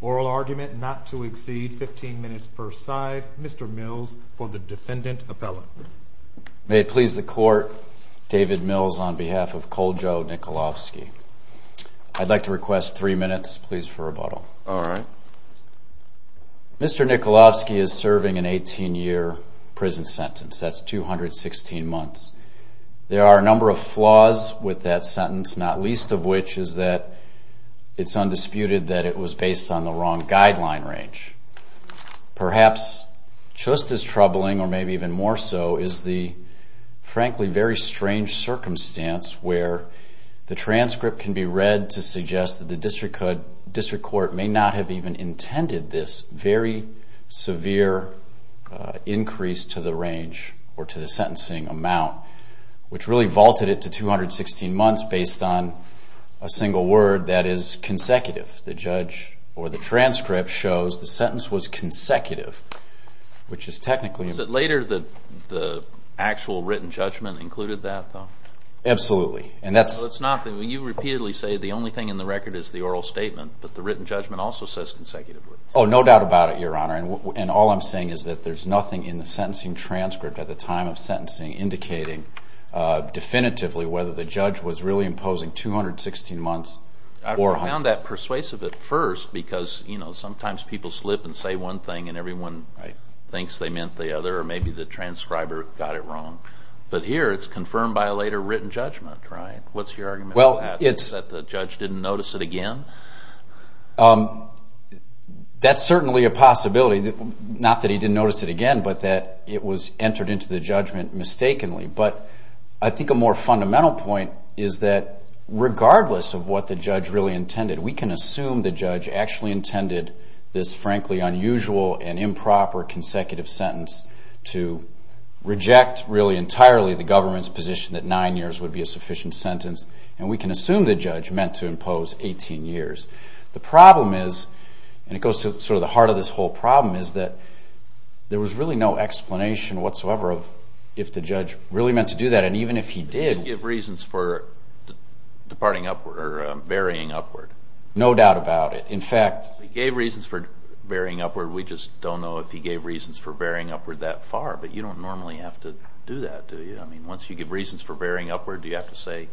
or argument not to exceed 15 minutes per side. Mr. Mills for the defendant appellant. May it please the court. David Mills on behalf of Koljo Nikolovski. I'd like to request three minutes, please, for a vote. All right. Mr. Nikolovski is serving an 18-year prison sentence. That's 216 months. There are a number of flaws with that sentence, not least of which is that it's undisputed that it was based on the wrong guideline range. Perhaps just as troubling or maybe even more so is the frankly very strange circumstance where the transcript can be read to suggest that the district court may not have even intended this very severe increase to the range or to the sentencing amount, which really vaulted it to 216 months based on a single word that is consecutive. The judge or the transcript shows the sentence was consecutive, which is technically... Is it later that the actual written judgment included that, though? Absolutely. And that's... No, it's not. You repeatedly say the only thing in the record is the oral statement, but the written judgment also says consecutively. Oh, no doubt about it, Your Honor. And all I'm saying is that there's nothing in the sentencing transcript at the time of sentencing indicating definitively whether the judge was really imposing 216 months or... Well, I found that persuasive at first because sometimes people slip and say one thing and everyone thinks they meant the other or maybe the transcriber got it wrong. But here it's confirmed by a later written judgment, right? What's your argument on that? Well, it's... That the judge didn't notice it again? That's certainly a possibility, not that he didn't notice it again, but that it was entered into the judgment mistakenly. But I think a more fundamental point is that regardless of what the judge really intended, we can assume the judge actually intended this frankly unusual and improper consecutive sentence to reject really entirely the government's position that nine years would be a sufficient sentence. And we can assume the judge meant to impose 18 years. The problem is, and it goes to sort of the heart of this whole problem, is that there was really no explanation whatsoever of if the judge really meant to do that. And even if he did... He gave reasons for varying upward. No doubt about it. In fact... He gave reasons for varying upward. We just don't know if he gave reasons for varying upward that far. But you don't normally have to do that, do you? I mean, once you give reasons for varying upward, do you have to say,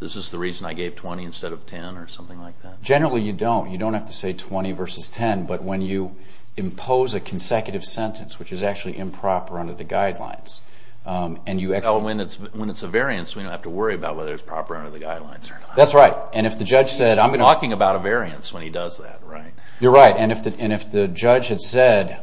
this is the reason I gave 20 instead of 10 or something like that? Generally, you don't. You don't have to say 20 versus 10. But when you impose a consecutive sentence, which is actually improper under the guidelines, and you actually... Well, when it's a variance, we don't have to worry about whether it's proper under the guidelines or not. That's right. And if the judge said... I'm talking about a variance when he does that, right? You're right. And if the judge had said,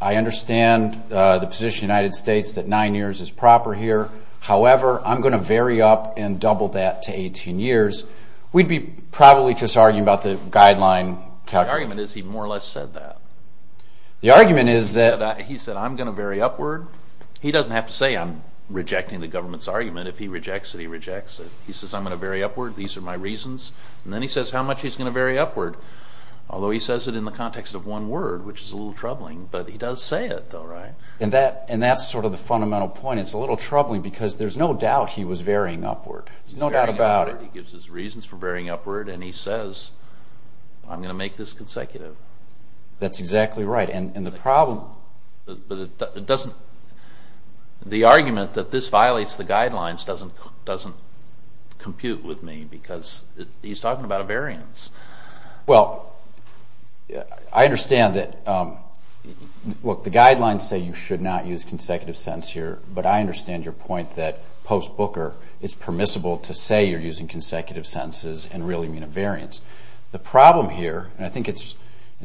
I understand the position of the United States that nine years is proper here. However, I'm going to vary up and double that to 18 years, we'd be probably just arguing about the guideline calculation. The argument is he more or less said that. The argument is that... He said, I'm going to vary upward. He doesn't have to say I'm rejecting the government's argument. If he rejects it, he rejects it. He says, I'm going to vary upward. These are my reasons. And then he says how much he's going to vary upward. Although he says it in the context of one word, which is a little troubling. But he does say it, though, right? And that's sort of the fundamental point. It's a little troubling because there's no doubt he was varying upward. No doubt about it. He's varying upward. He gives his reasons for varying upward. And he says, I'm going to make this consecutive. That's exactly right. And the problem... The argument that this violates the guidelines doesn't compute with me because he's talking about a variance. Well, I understand that... Look, the guidelines say you should not use consecutive sentence here, but I understand your point that post-Booker, it's permissible to say you're using consecutive sentences and really mean a variance. The problem here, and I think it's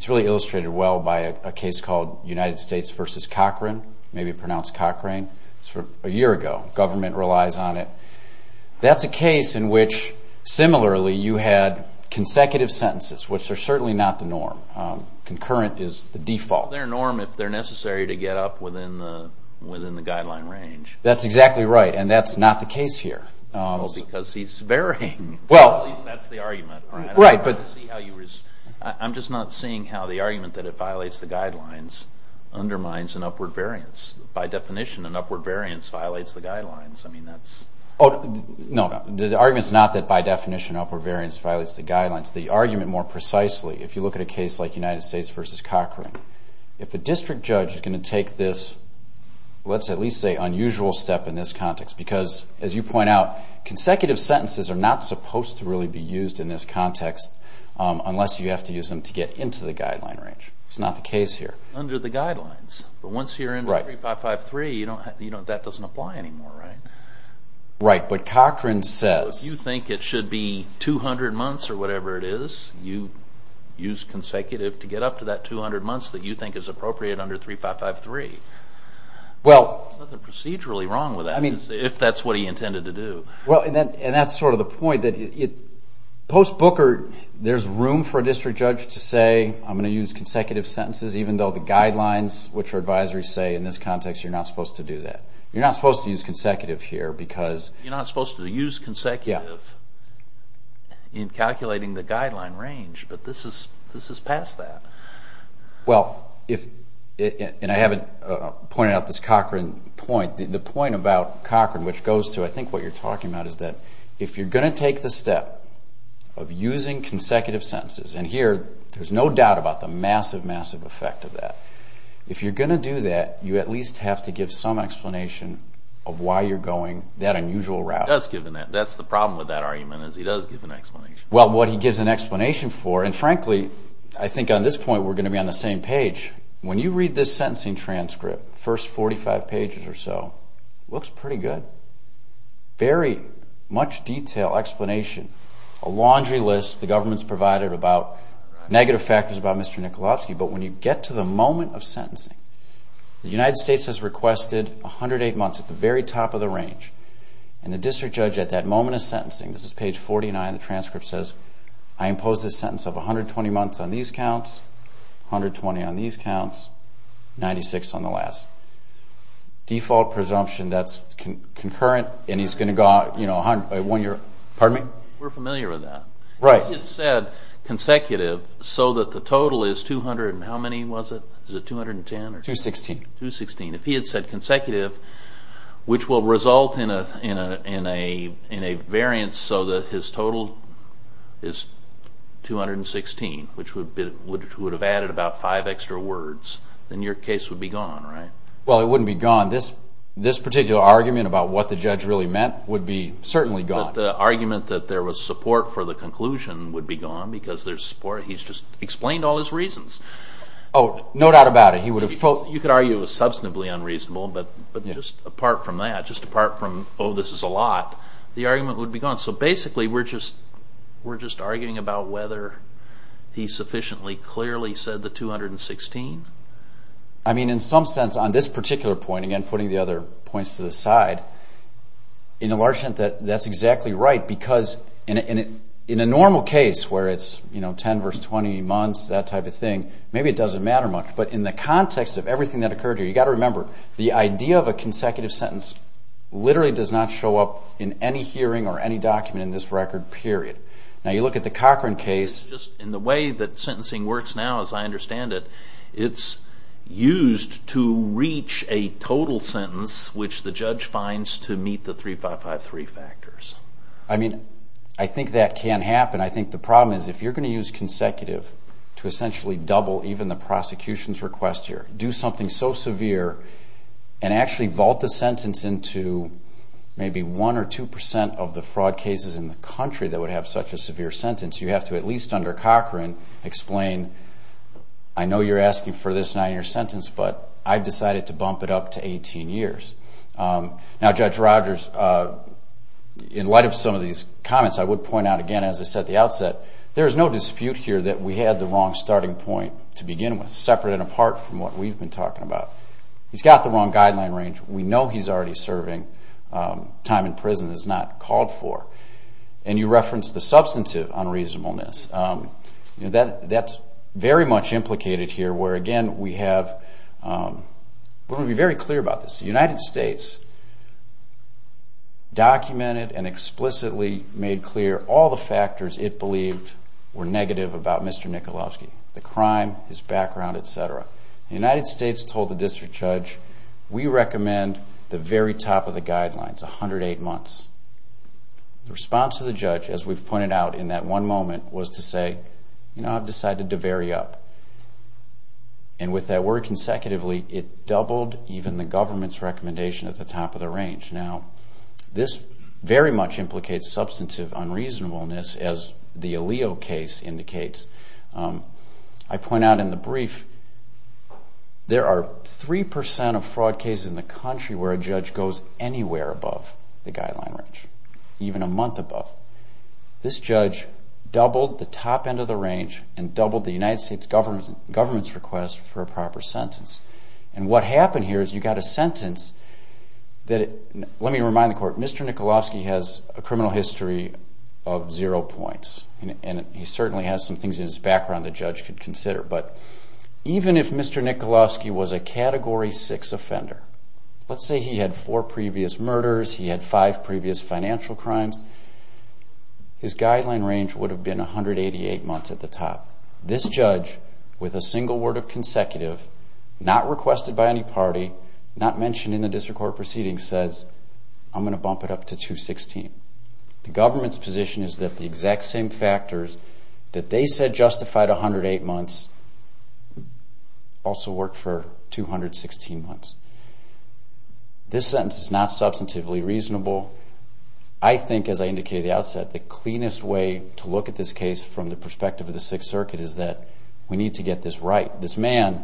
really illustrated well by a case called United States v. Cochrane, maybe pronounced Cochrane, a year ago. Government relies on it. That's a case in which, similarly, you had consecutive sentences, which are certainly not the norm. Concurrent is the default. They're a norm if they're necessary to get up within the guideline range. That's exactly right. And that's not the case here. Because he's varying. That's the argument. I'm just not seeing how the argument that it violates the guidelines undermines an upward variance. By definition, an upward variance violates the guidelines. No, the argument is not that, by definition, an upward variance violates the guidelines. The argument, more precisely, if you look at a case like United States v. Cochrane, if a district judge is going to take this, let's at least say unusual step in this context, because, as you point out, consecutive sentences are not supposed to really be used in this context unless you have to use them to get into the guideline range. It's not the case here. Under the guidelines. But once you're in 3553, that doesn't apply anymore, right? Right. But Cochrane says... You think it should be 200 months or whatever it is. You use consecutive to get up to that 200 months that you think is appropriate under 3553. Well... There's nothing procedurally wrong with that, if that's what he intended to do. And that's sort of the point. Post Booker, there's room for a district judge to say, I'm going to use consecutive sentences, even though the guidelines, which are advisories, say in this context you're not supposed to do that. You're not supposed to use consecutive here because... You're not supposed to use consecutive in calculating the guideline range, but this is past that. Well, if... And I haven't pointed out this Cochrane point. The point about Cochrane, which goes to, I think, what you're talking about, is that if you're going to take the step of using consecutive sentences... And here, there's no doubt about the massive, massive effect of that. If you're going to do that, you at least have to give some explanation of why you're going that unusual route. That's the problem with that argument, is he does give an explanation. Well, what he gives an explanation for, and frankly, I think on this point we're going to be on the same page. When you read this sentencing transcript, the first 45 pages or so, it looks pretty good. Very much detailed explanation. A laundry list the government's provided about negative factors about Mr. Nikolaevsky. But when you get to the moment of sentencing, the United States has requested 108 months at the very top of the range. And the district judge at that moment of sentencing, this is page 49, the transcript says, I impose this sentence of 120 months on these counts, 120 on these counts, 96 on the last. Default presumption that's concurrent, and he's going to go out... Pardon me? We're familiar with that. Right. If he had said consecutive, so that the total is 200 and how many was it? Is it 210? 216. 216. If he had said consecutive, which will result in a variance so that his total is 216, which would have added about five extra words, then your case would be gone, right? Well, it wouldn't be gone. This particular argument about what the judge really meant would be certainly gone. But the argument that there was support for the conclusion would be gone because there's support. He's just explained all his reasons. Oh, no doubt about it. You could argue it was substantively unreasonable, but just apart from that, just apart from, oh, this is a lot, the argument would be gone. So basically we're just arguing about whether he sufficiently clearly said the 216. I mean, in some sense on this particular point, again, putting the other points to the side, in a large sense that's exactly right because in a normal case where it's 10 versus 20 months, that type of thing, maybe it doesn't matter much. But in the context of everything that occurred here, you've got to remember, the idea of a consecutive sentence literally does not show up in any hearing or any document in this record, period. Now, you look at the Cochran case. In the way that sentencing works now, as I understand it, it's used to reach a total sentence which the judge finds to meet the 3553 factors. I mean, I think that can happen. I think the problem is if you're going to use consecutive to essentially double even the prosecution's request here, do something so severe and actually vault the sentence into maybe one or two percent of the fraud cases in the country that would have such a severe sentence, you have to at least under Cochran explain, I know you're asking for this nine-year sentence, but I've decided to bump it up to 18 years. Now, Judge Rogers, in light of some of these comments, I would point out, again, as I said, at the outset, there is no dispute here that we had the wrong starting point to begin with, separate and apart from what we've been talking about. He's got the wrong guideline range. We know he's already serving time in prison that's not called for. And you referenced the substantive unreasonableness. That's very much implicated here where, again, we have to be very clear about this. The United States documented and explicitly made clear all the factors it believed were negative about Mr. Michalowski, the crime, his background, et cetera. The United States told the district judge, we recommend the very top of the guidelines, 108 months. The response of the judge, as we've pointed out in that one moment, was to say, you know, I've decided to vary up. And with that word consecutively, it doubled even the government's recommendation at the top of the range. Now, this very much implicates substantive unreasonableness, as the ALEO case indicates. I point out in the brief, there are 3% of fraud cases in the country where a judge goes anywhere above the guideline range, even a month above. This judge doubled the top end of the range and doubled the United States government's request for a proper sentence. And what happened here is you got a sentence that, let me remind the court, Mr. Michalowski has a criminal history of zero points. And he certainly has some things in his background the judge could consider. But even if Mr. Michalowski was a Category 6 offender, let's say he had four previous murders, he had five previous financial crimes, his guideline range would have been 188 months at the top. This judge, with a single word of consecutive, not requested by any party, not mentioned in the district court proceedings, says, I'm going to bump it up to 216. The government's position is that the exact same factors that they said justified 108 months also worked for 216 months. This sentence is not substantively reasonable. I think, as I indicated at the outset, the cleanest way to look at this case from the perspective of the Sixth Circuit is that we need to get this right. This man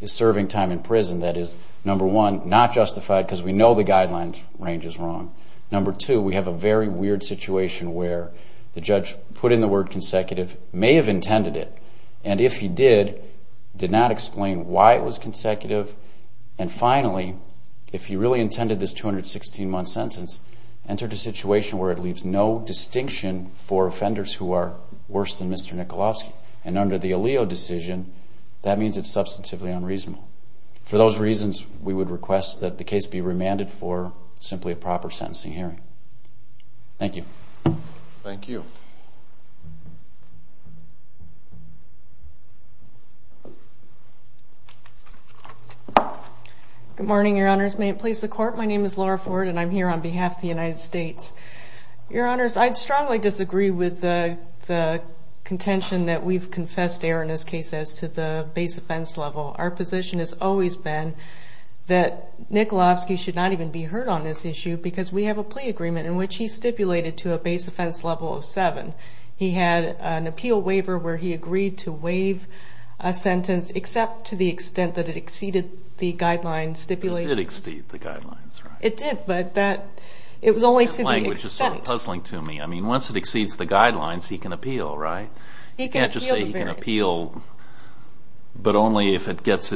is serving time in prison that is, number one, not justified because we know the guideline range is wrong. Number two, we have a very weird situation where the judge put in the word consecutive, may have intended it, and if he did, did not explain why it was consecutive, and finally, if he really intended this 216-month sentence, entered a situation where it leaves no distinction for offenders who are worse than Mr. Michalowski. And under the ALEO decision, that means it's substantively unreasonable. For those reasons, we would request that the case be remanded for simply a proper sentencing hearing. Thank you. Thank you. Good morning, Your Honors. May it please the Court, my name is Laura Ford, and I'm here on behalf of the United States. Your Honors, I strongly disagree with the contention that we've confessed error in this case as to the base offense level. Our position has always been that Michalowski should not even be heard on this issue because we have a plea agreement in which he stipulated to a base offense level of seven. He had an appeal waiver where he agreed to waive a sentence except to the extent that it exceeded the guideline stipulation. It did exceed the guidelines, right? It did, but that, it was only to the extent. That language is sort of puzzling to me. I mean, once it exceeds the guidelines, he can appeal, right? He can appeal. But only if it gets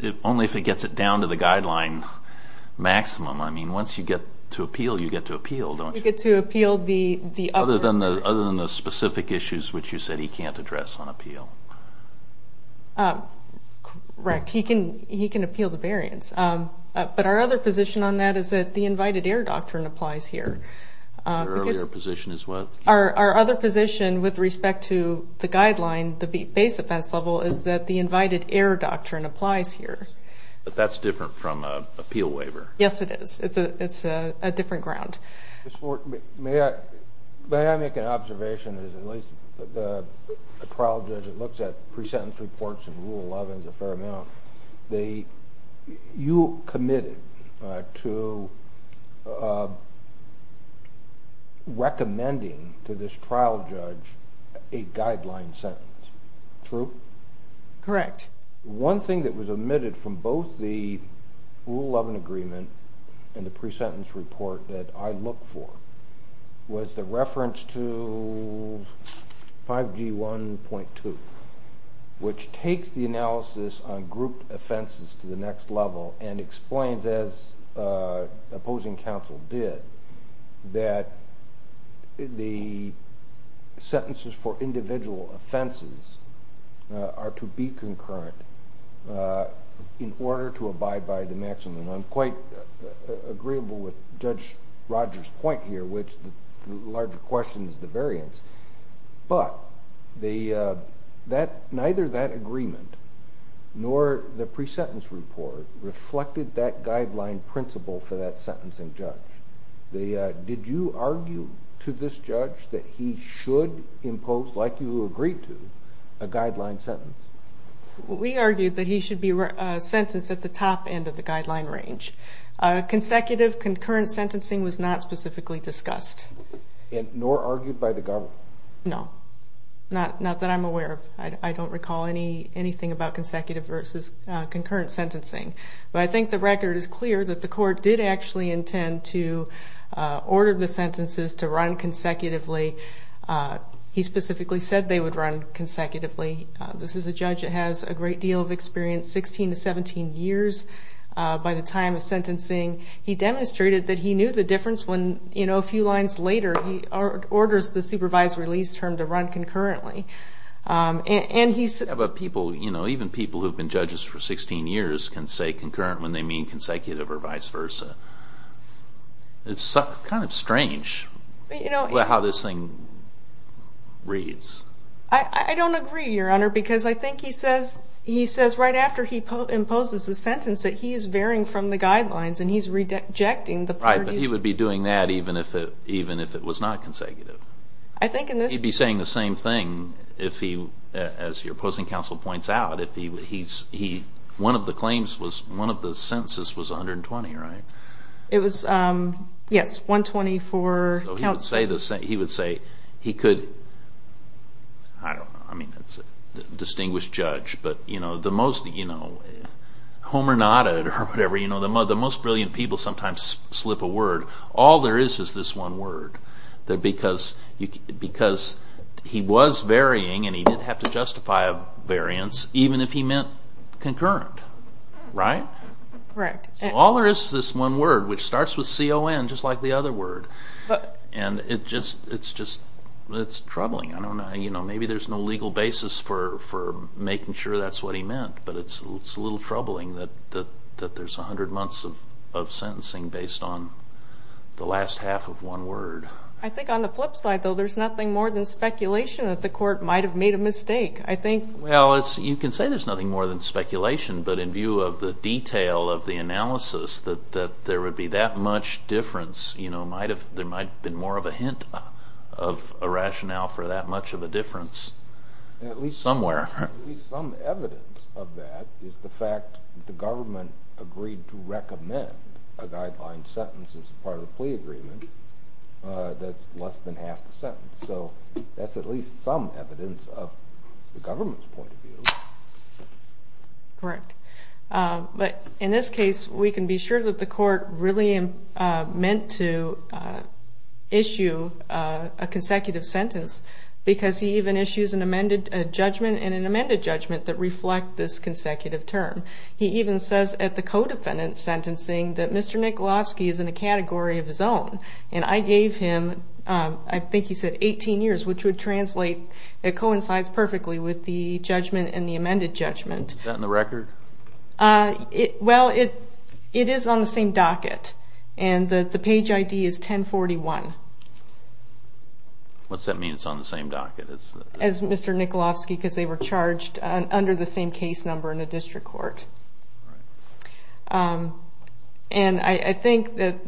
it down to the guideline maximum. I mean, once you get to appeal, you get to appeal, don't you? You get to appeal the other. Other than the specific issues which you said he can't address on appeal. Correct. He can appeal the variance. But our other position on that is that the invited error doctrine applies here. Your earlier position is what? Our other position with respect to the guideline, the base offense level, is that the invited error doctrine applies here. But that's different from an appeal waiver. Yes, it is. It's a different ground. May I make an observation? At least the trial judge that looks at pre-sentence reports in Rule 11 is a fair amount. You committed to recommending to this trial judge a guideline sentence. True? Correct. One thing that was omitted from both the Rule 11 agreement and the pre-sentence report that I look for was the reference to 5G1.2, which takes the analysis on grouped offenses to the next level and explains, as opposing counsel did, that the sentences for individual offenses are to be concurrent in order to abide by the maximum. And I'm quite agreeable with Judge Rogers' point here, which the larger question is the variance. But neither that agreement nor the pre-sentence report reflected that guideline principle for that sentencing judge. Did you argue to this judge that he should impose, like you agreed to, a guideline sentence? We argued that he should be sentenced at the top end of the guideline range. Consecutive, concurrent sentencing was not specifically discussed. Nor argued by the government? No, not that I'm aware of. I don't recall anything about consecutive versus concurrent sentencing. But I think the record is clear that the court did actually intend to order the sentences to run consecutively. He specifically said they would run consecutively. This is a judge that has a great deal of experience, 16 to 17 years by the time of sentencing. He demonstrated that he knew the difference when a few lines later he orders the supervised release term to run concurrently. But even people who have been judges for 16 years can say concurrent when they mean consecutive or vice versa. It's kind of strange how this thing reads. I don't agree, Your Honor, because I think he says right after he imposes a sentence that he is varying from the guidelines. Right, but he would be doing that even if it was not consecutive. He'd be saying the same thing, as your opposing counsel points out. One of the sentences was 120, right? It was, yes, 120 for counsel. He would say he could, I don't know, I mean that's a distinguished judge. Homer Nodded or whatever, the most brilliant people sometimes slip a word. All there is is this one word because he was varying and he didn't have to justify a variance even if he meant concurrent, right? Correct. All there is is this one word which starts with C-O-N just like the other word. It's troubling. Maybe there's no legal basis for making sure that's what he meant, but it's a little troubling that there's 100 months of sentencing based on the last half of one word. I think on the flip side, though, there's nothing more than speculation that the court might have made a mistake. Well, you can say there's nothing more than speculation, but in view of the detail of the analysis that there would be that much difference, there might have been more of a hint of a rationale for that much of a difference. At least somewhere. At least some evidence of that is the fact that the government agreed to recommend a guideline sentence as part of a plea agreement that's less than half the sentence. That's at least some evidence of the government's point of view. Correct. But in this case, we can be sure that the court really meant to issue a consecutive sentence because he even issues an amended judgment and an amended judgment that reflect this consecutive term. He even says at the co-defendant's sentencing that Mr. Nikolofsky is in a category of his own, and I gave him, I think he said 18 years, which would translate, it coincides perfectly with the judgment and the amended judgment. Is that in the record? Well, it is on the same docket, and the page ID is 1041. What's that mean, it's on the same docket? As Mr. Nikolofsky, because they were charged under the same case number in the district court. And I think that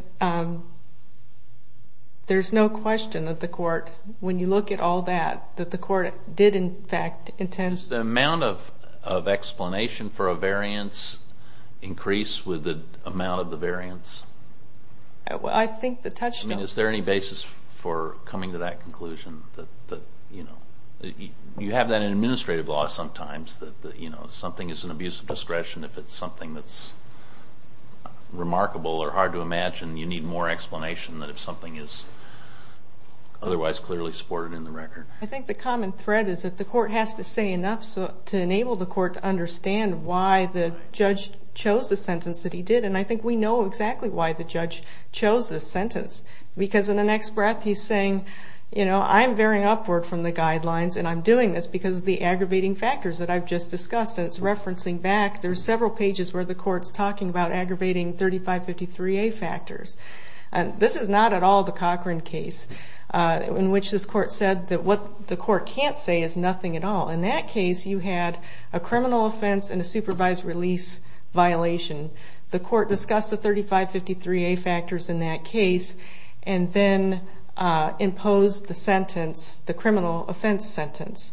there's no question that the court, when you look at all that, that the court did, in fact, intend... Does the amount of explanation for a variance increase with the amount of the variance? I think the touchdown... I mean, is there any basis for coming to that conclusion? You have that in administrative law sometimes, that if something is an abuse of discretion, if it's something that's remarkable or hard to imagine, you need more explanation than if something is otherwise clearly supported in the record. I think the common thread is that the court has to say enough to enable the court to understand why the judge chose the sentence that he did, and I think we know exactly why the judge chose this sentence, because in the next breath he's saying, I'm varying upward from the guidelines and I'm doing this because of the aggravating factors that I've just discussed, and it's referencing back. There's several pages where the court's talking about aggravating 3553A factors. This is not at all the Cochran case, in which this court said that what the court can't say is nothing at all. In that case, you had a criminal offense and a supervised release violation. The court discussed the 3553A factors in that case and then imposed the criminal offense sentence.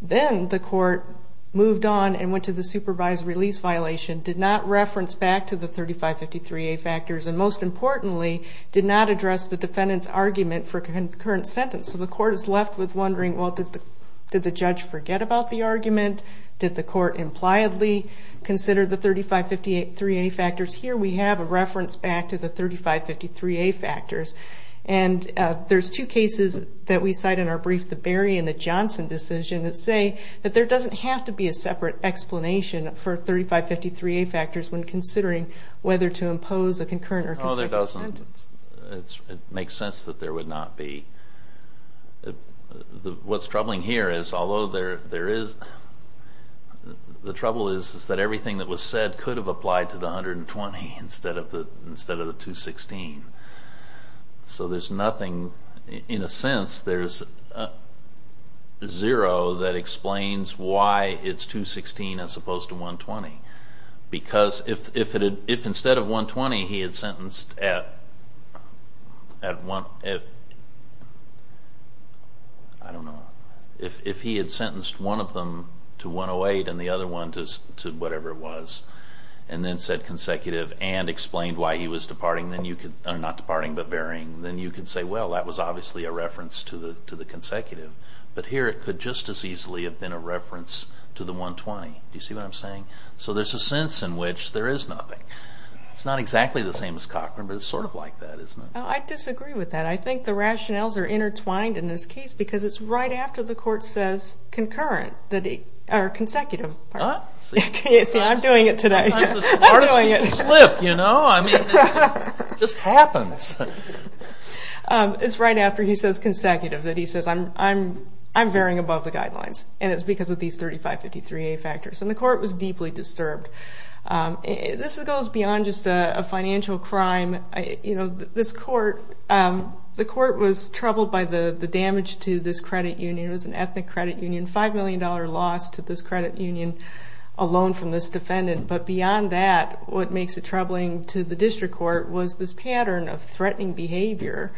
Then the court moved on and went to the supervised release violation, did not reference back to the 3553A factors, and most importantly, did not address the defendant's argument for a concurrent sentence. So the court is left with wondering, well, did the judge forget about the argument? Did the court impliedly consider the 3553A factors? Here we have a reference back to the 3553A factors, and there's two cases that we cite in our brief, the Berry and the Johnson decision, that say that there doesn't have to be a separate explanation for 3553A factors when considering whether to impose a concurrent or consecutive sentence. No, there doesn't. It makes sense that there would not be. What's troubling here is, although there is, the trouble is that everything that was said could have applied to the 120 instead of the 216. So there's nothing, in a sense, there's zero that explains why it's 216 as opposed to 120. Because if instead of 120, he had sentenced one of them to 108 and the other one to whatever it was, and then said consecutive and explained why he was departing, not departing but bearing, then you could say, well, that was obviously a reference to the consecutive. But here it could just as easily have been a reference to the 120. Do you see what I'm saying? So there's a sense in which there is nothing. It's not exactly the same as Cochran, but it's sort of like that, isn't it? I disagree with that. I think the rationales are intertwined in this case because it's right after the court says consecutive. See, I'm doing it today. Sometimes the smartest people slip, you know. I mean, it just happens. It's right after he says consecutive that he says, I'm varying above the guidelines, and it's because of these 3553A factors. And the court was deeply disturbed. This goes beyond just a financial crime. This court was troubled by the damage to this credit union. It was an ethnic credit union, $5 million loss to this credit union, a loan from this defendant. But beyond that, what makes it troubling to the district court was this pattern of threatening behavior.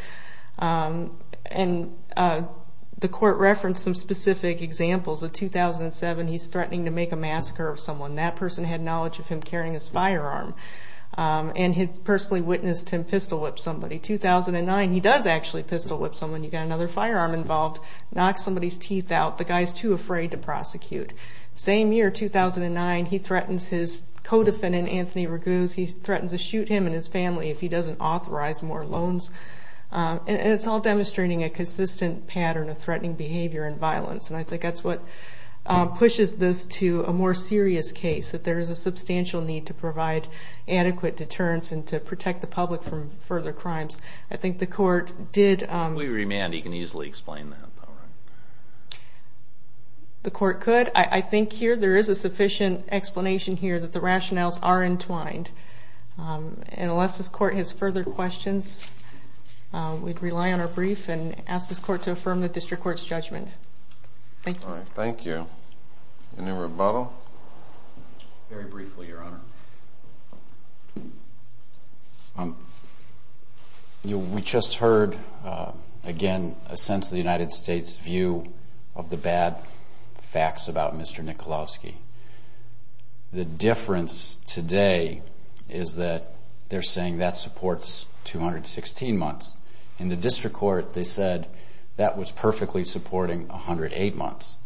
And the court referenced some specific examples. In 2007, he's threatening to make a massacre of someone. That person had knowledge of him carrying his firearm, and had personally witnessed him pistol-whip somebody. 2009, he does actually pistol-whip someone. You've got another firearm involved. Knocks somebody's teeth out. The guy's too afraid to prosecute. Same year, 2009, he threatens his co-defendant, Anthony Raguse. He threatens to shoot him and his family if he doesn't authorize more loans. And it's all demonstrating a consistent pattern of threatening behavior and violence. And I think that's what pushes this to a more serious case, that there is a substantial need to provide adequate deterrence and to protect the public from further crimes. I think the court did... If we remand, he can easily explain that. The court could. I think here there is a sufficient explanation here that the rationales are entwined. And unless this court has further questions, we'd rely on our brief and ask this court to affirm the district court's judgment. Thank you. All right, thank you. Any rebuttal? Very briefly, Your Honor. We just heard, again, a sense of the United States' view of the bad facts about Mr. Nikolowski. The difference today is that they're saying that supports 216 months. In the district court they said that was perfectly supporting 108 months.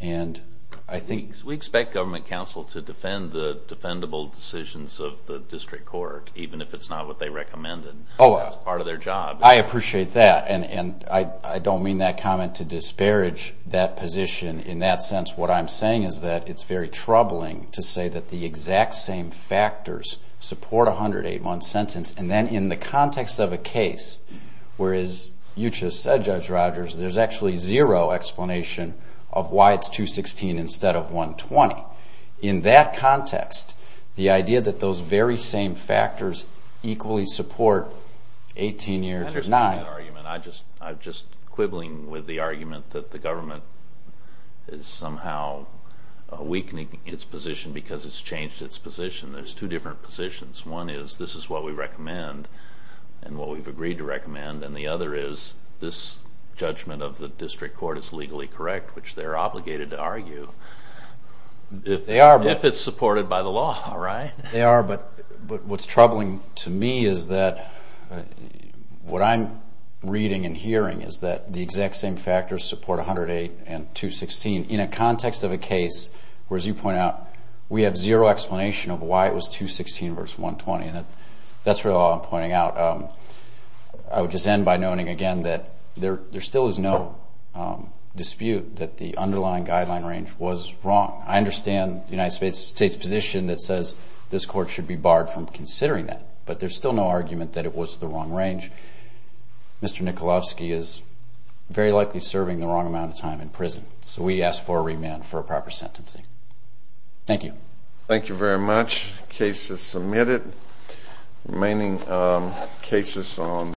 And I think... We expect government counsel to defend the defendable decisions of the district court, even if it's not what they recommended. That's part of their job. I appreciate that. And I don't mean that comment to disparage that position. In that sense, what I'm saying is that it's very troubling to say that the exact same factors support a 108-month sentence. And then in the context of a case where, as you just said, Judge Rogers, there's actually zero explanation of why it's 216 instead of 120. In that context, the idea that those very same factors equally support 18 years... I understand that argument. I'm just quibbling with the argument that the government is somehow weakening its position because it's changed its position. There's two different positions. One is this is what we recommend and what we've agreed to recommend, and the other is this judgment of the district court is legally correct, which they're obligated to argue... They are, but... ...if it's supported by the law, right? They are, but what's troubling to me is that what I'm reading and hearing is that the exact same factors support 108 and 216 in a context of a case where, as you point out, we have zero explanation of why it was 216 versus 120. That's really all I'm pointing out. I would just end by noting again that there still is no dispute that the underlying guideline range was wrong. I understand the United States' position that says this court should be barred from considering that, but there's still no argument that it was the wrong range. Mr. Nikolowski is very likely serving the wrong amount of time in prison, so we ask for a remand for a proper sentencing. Thank you. Thank you very much. Case is submitted. Remaining cases on...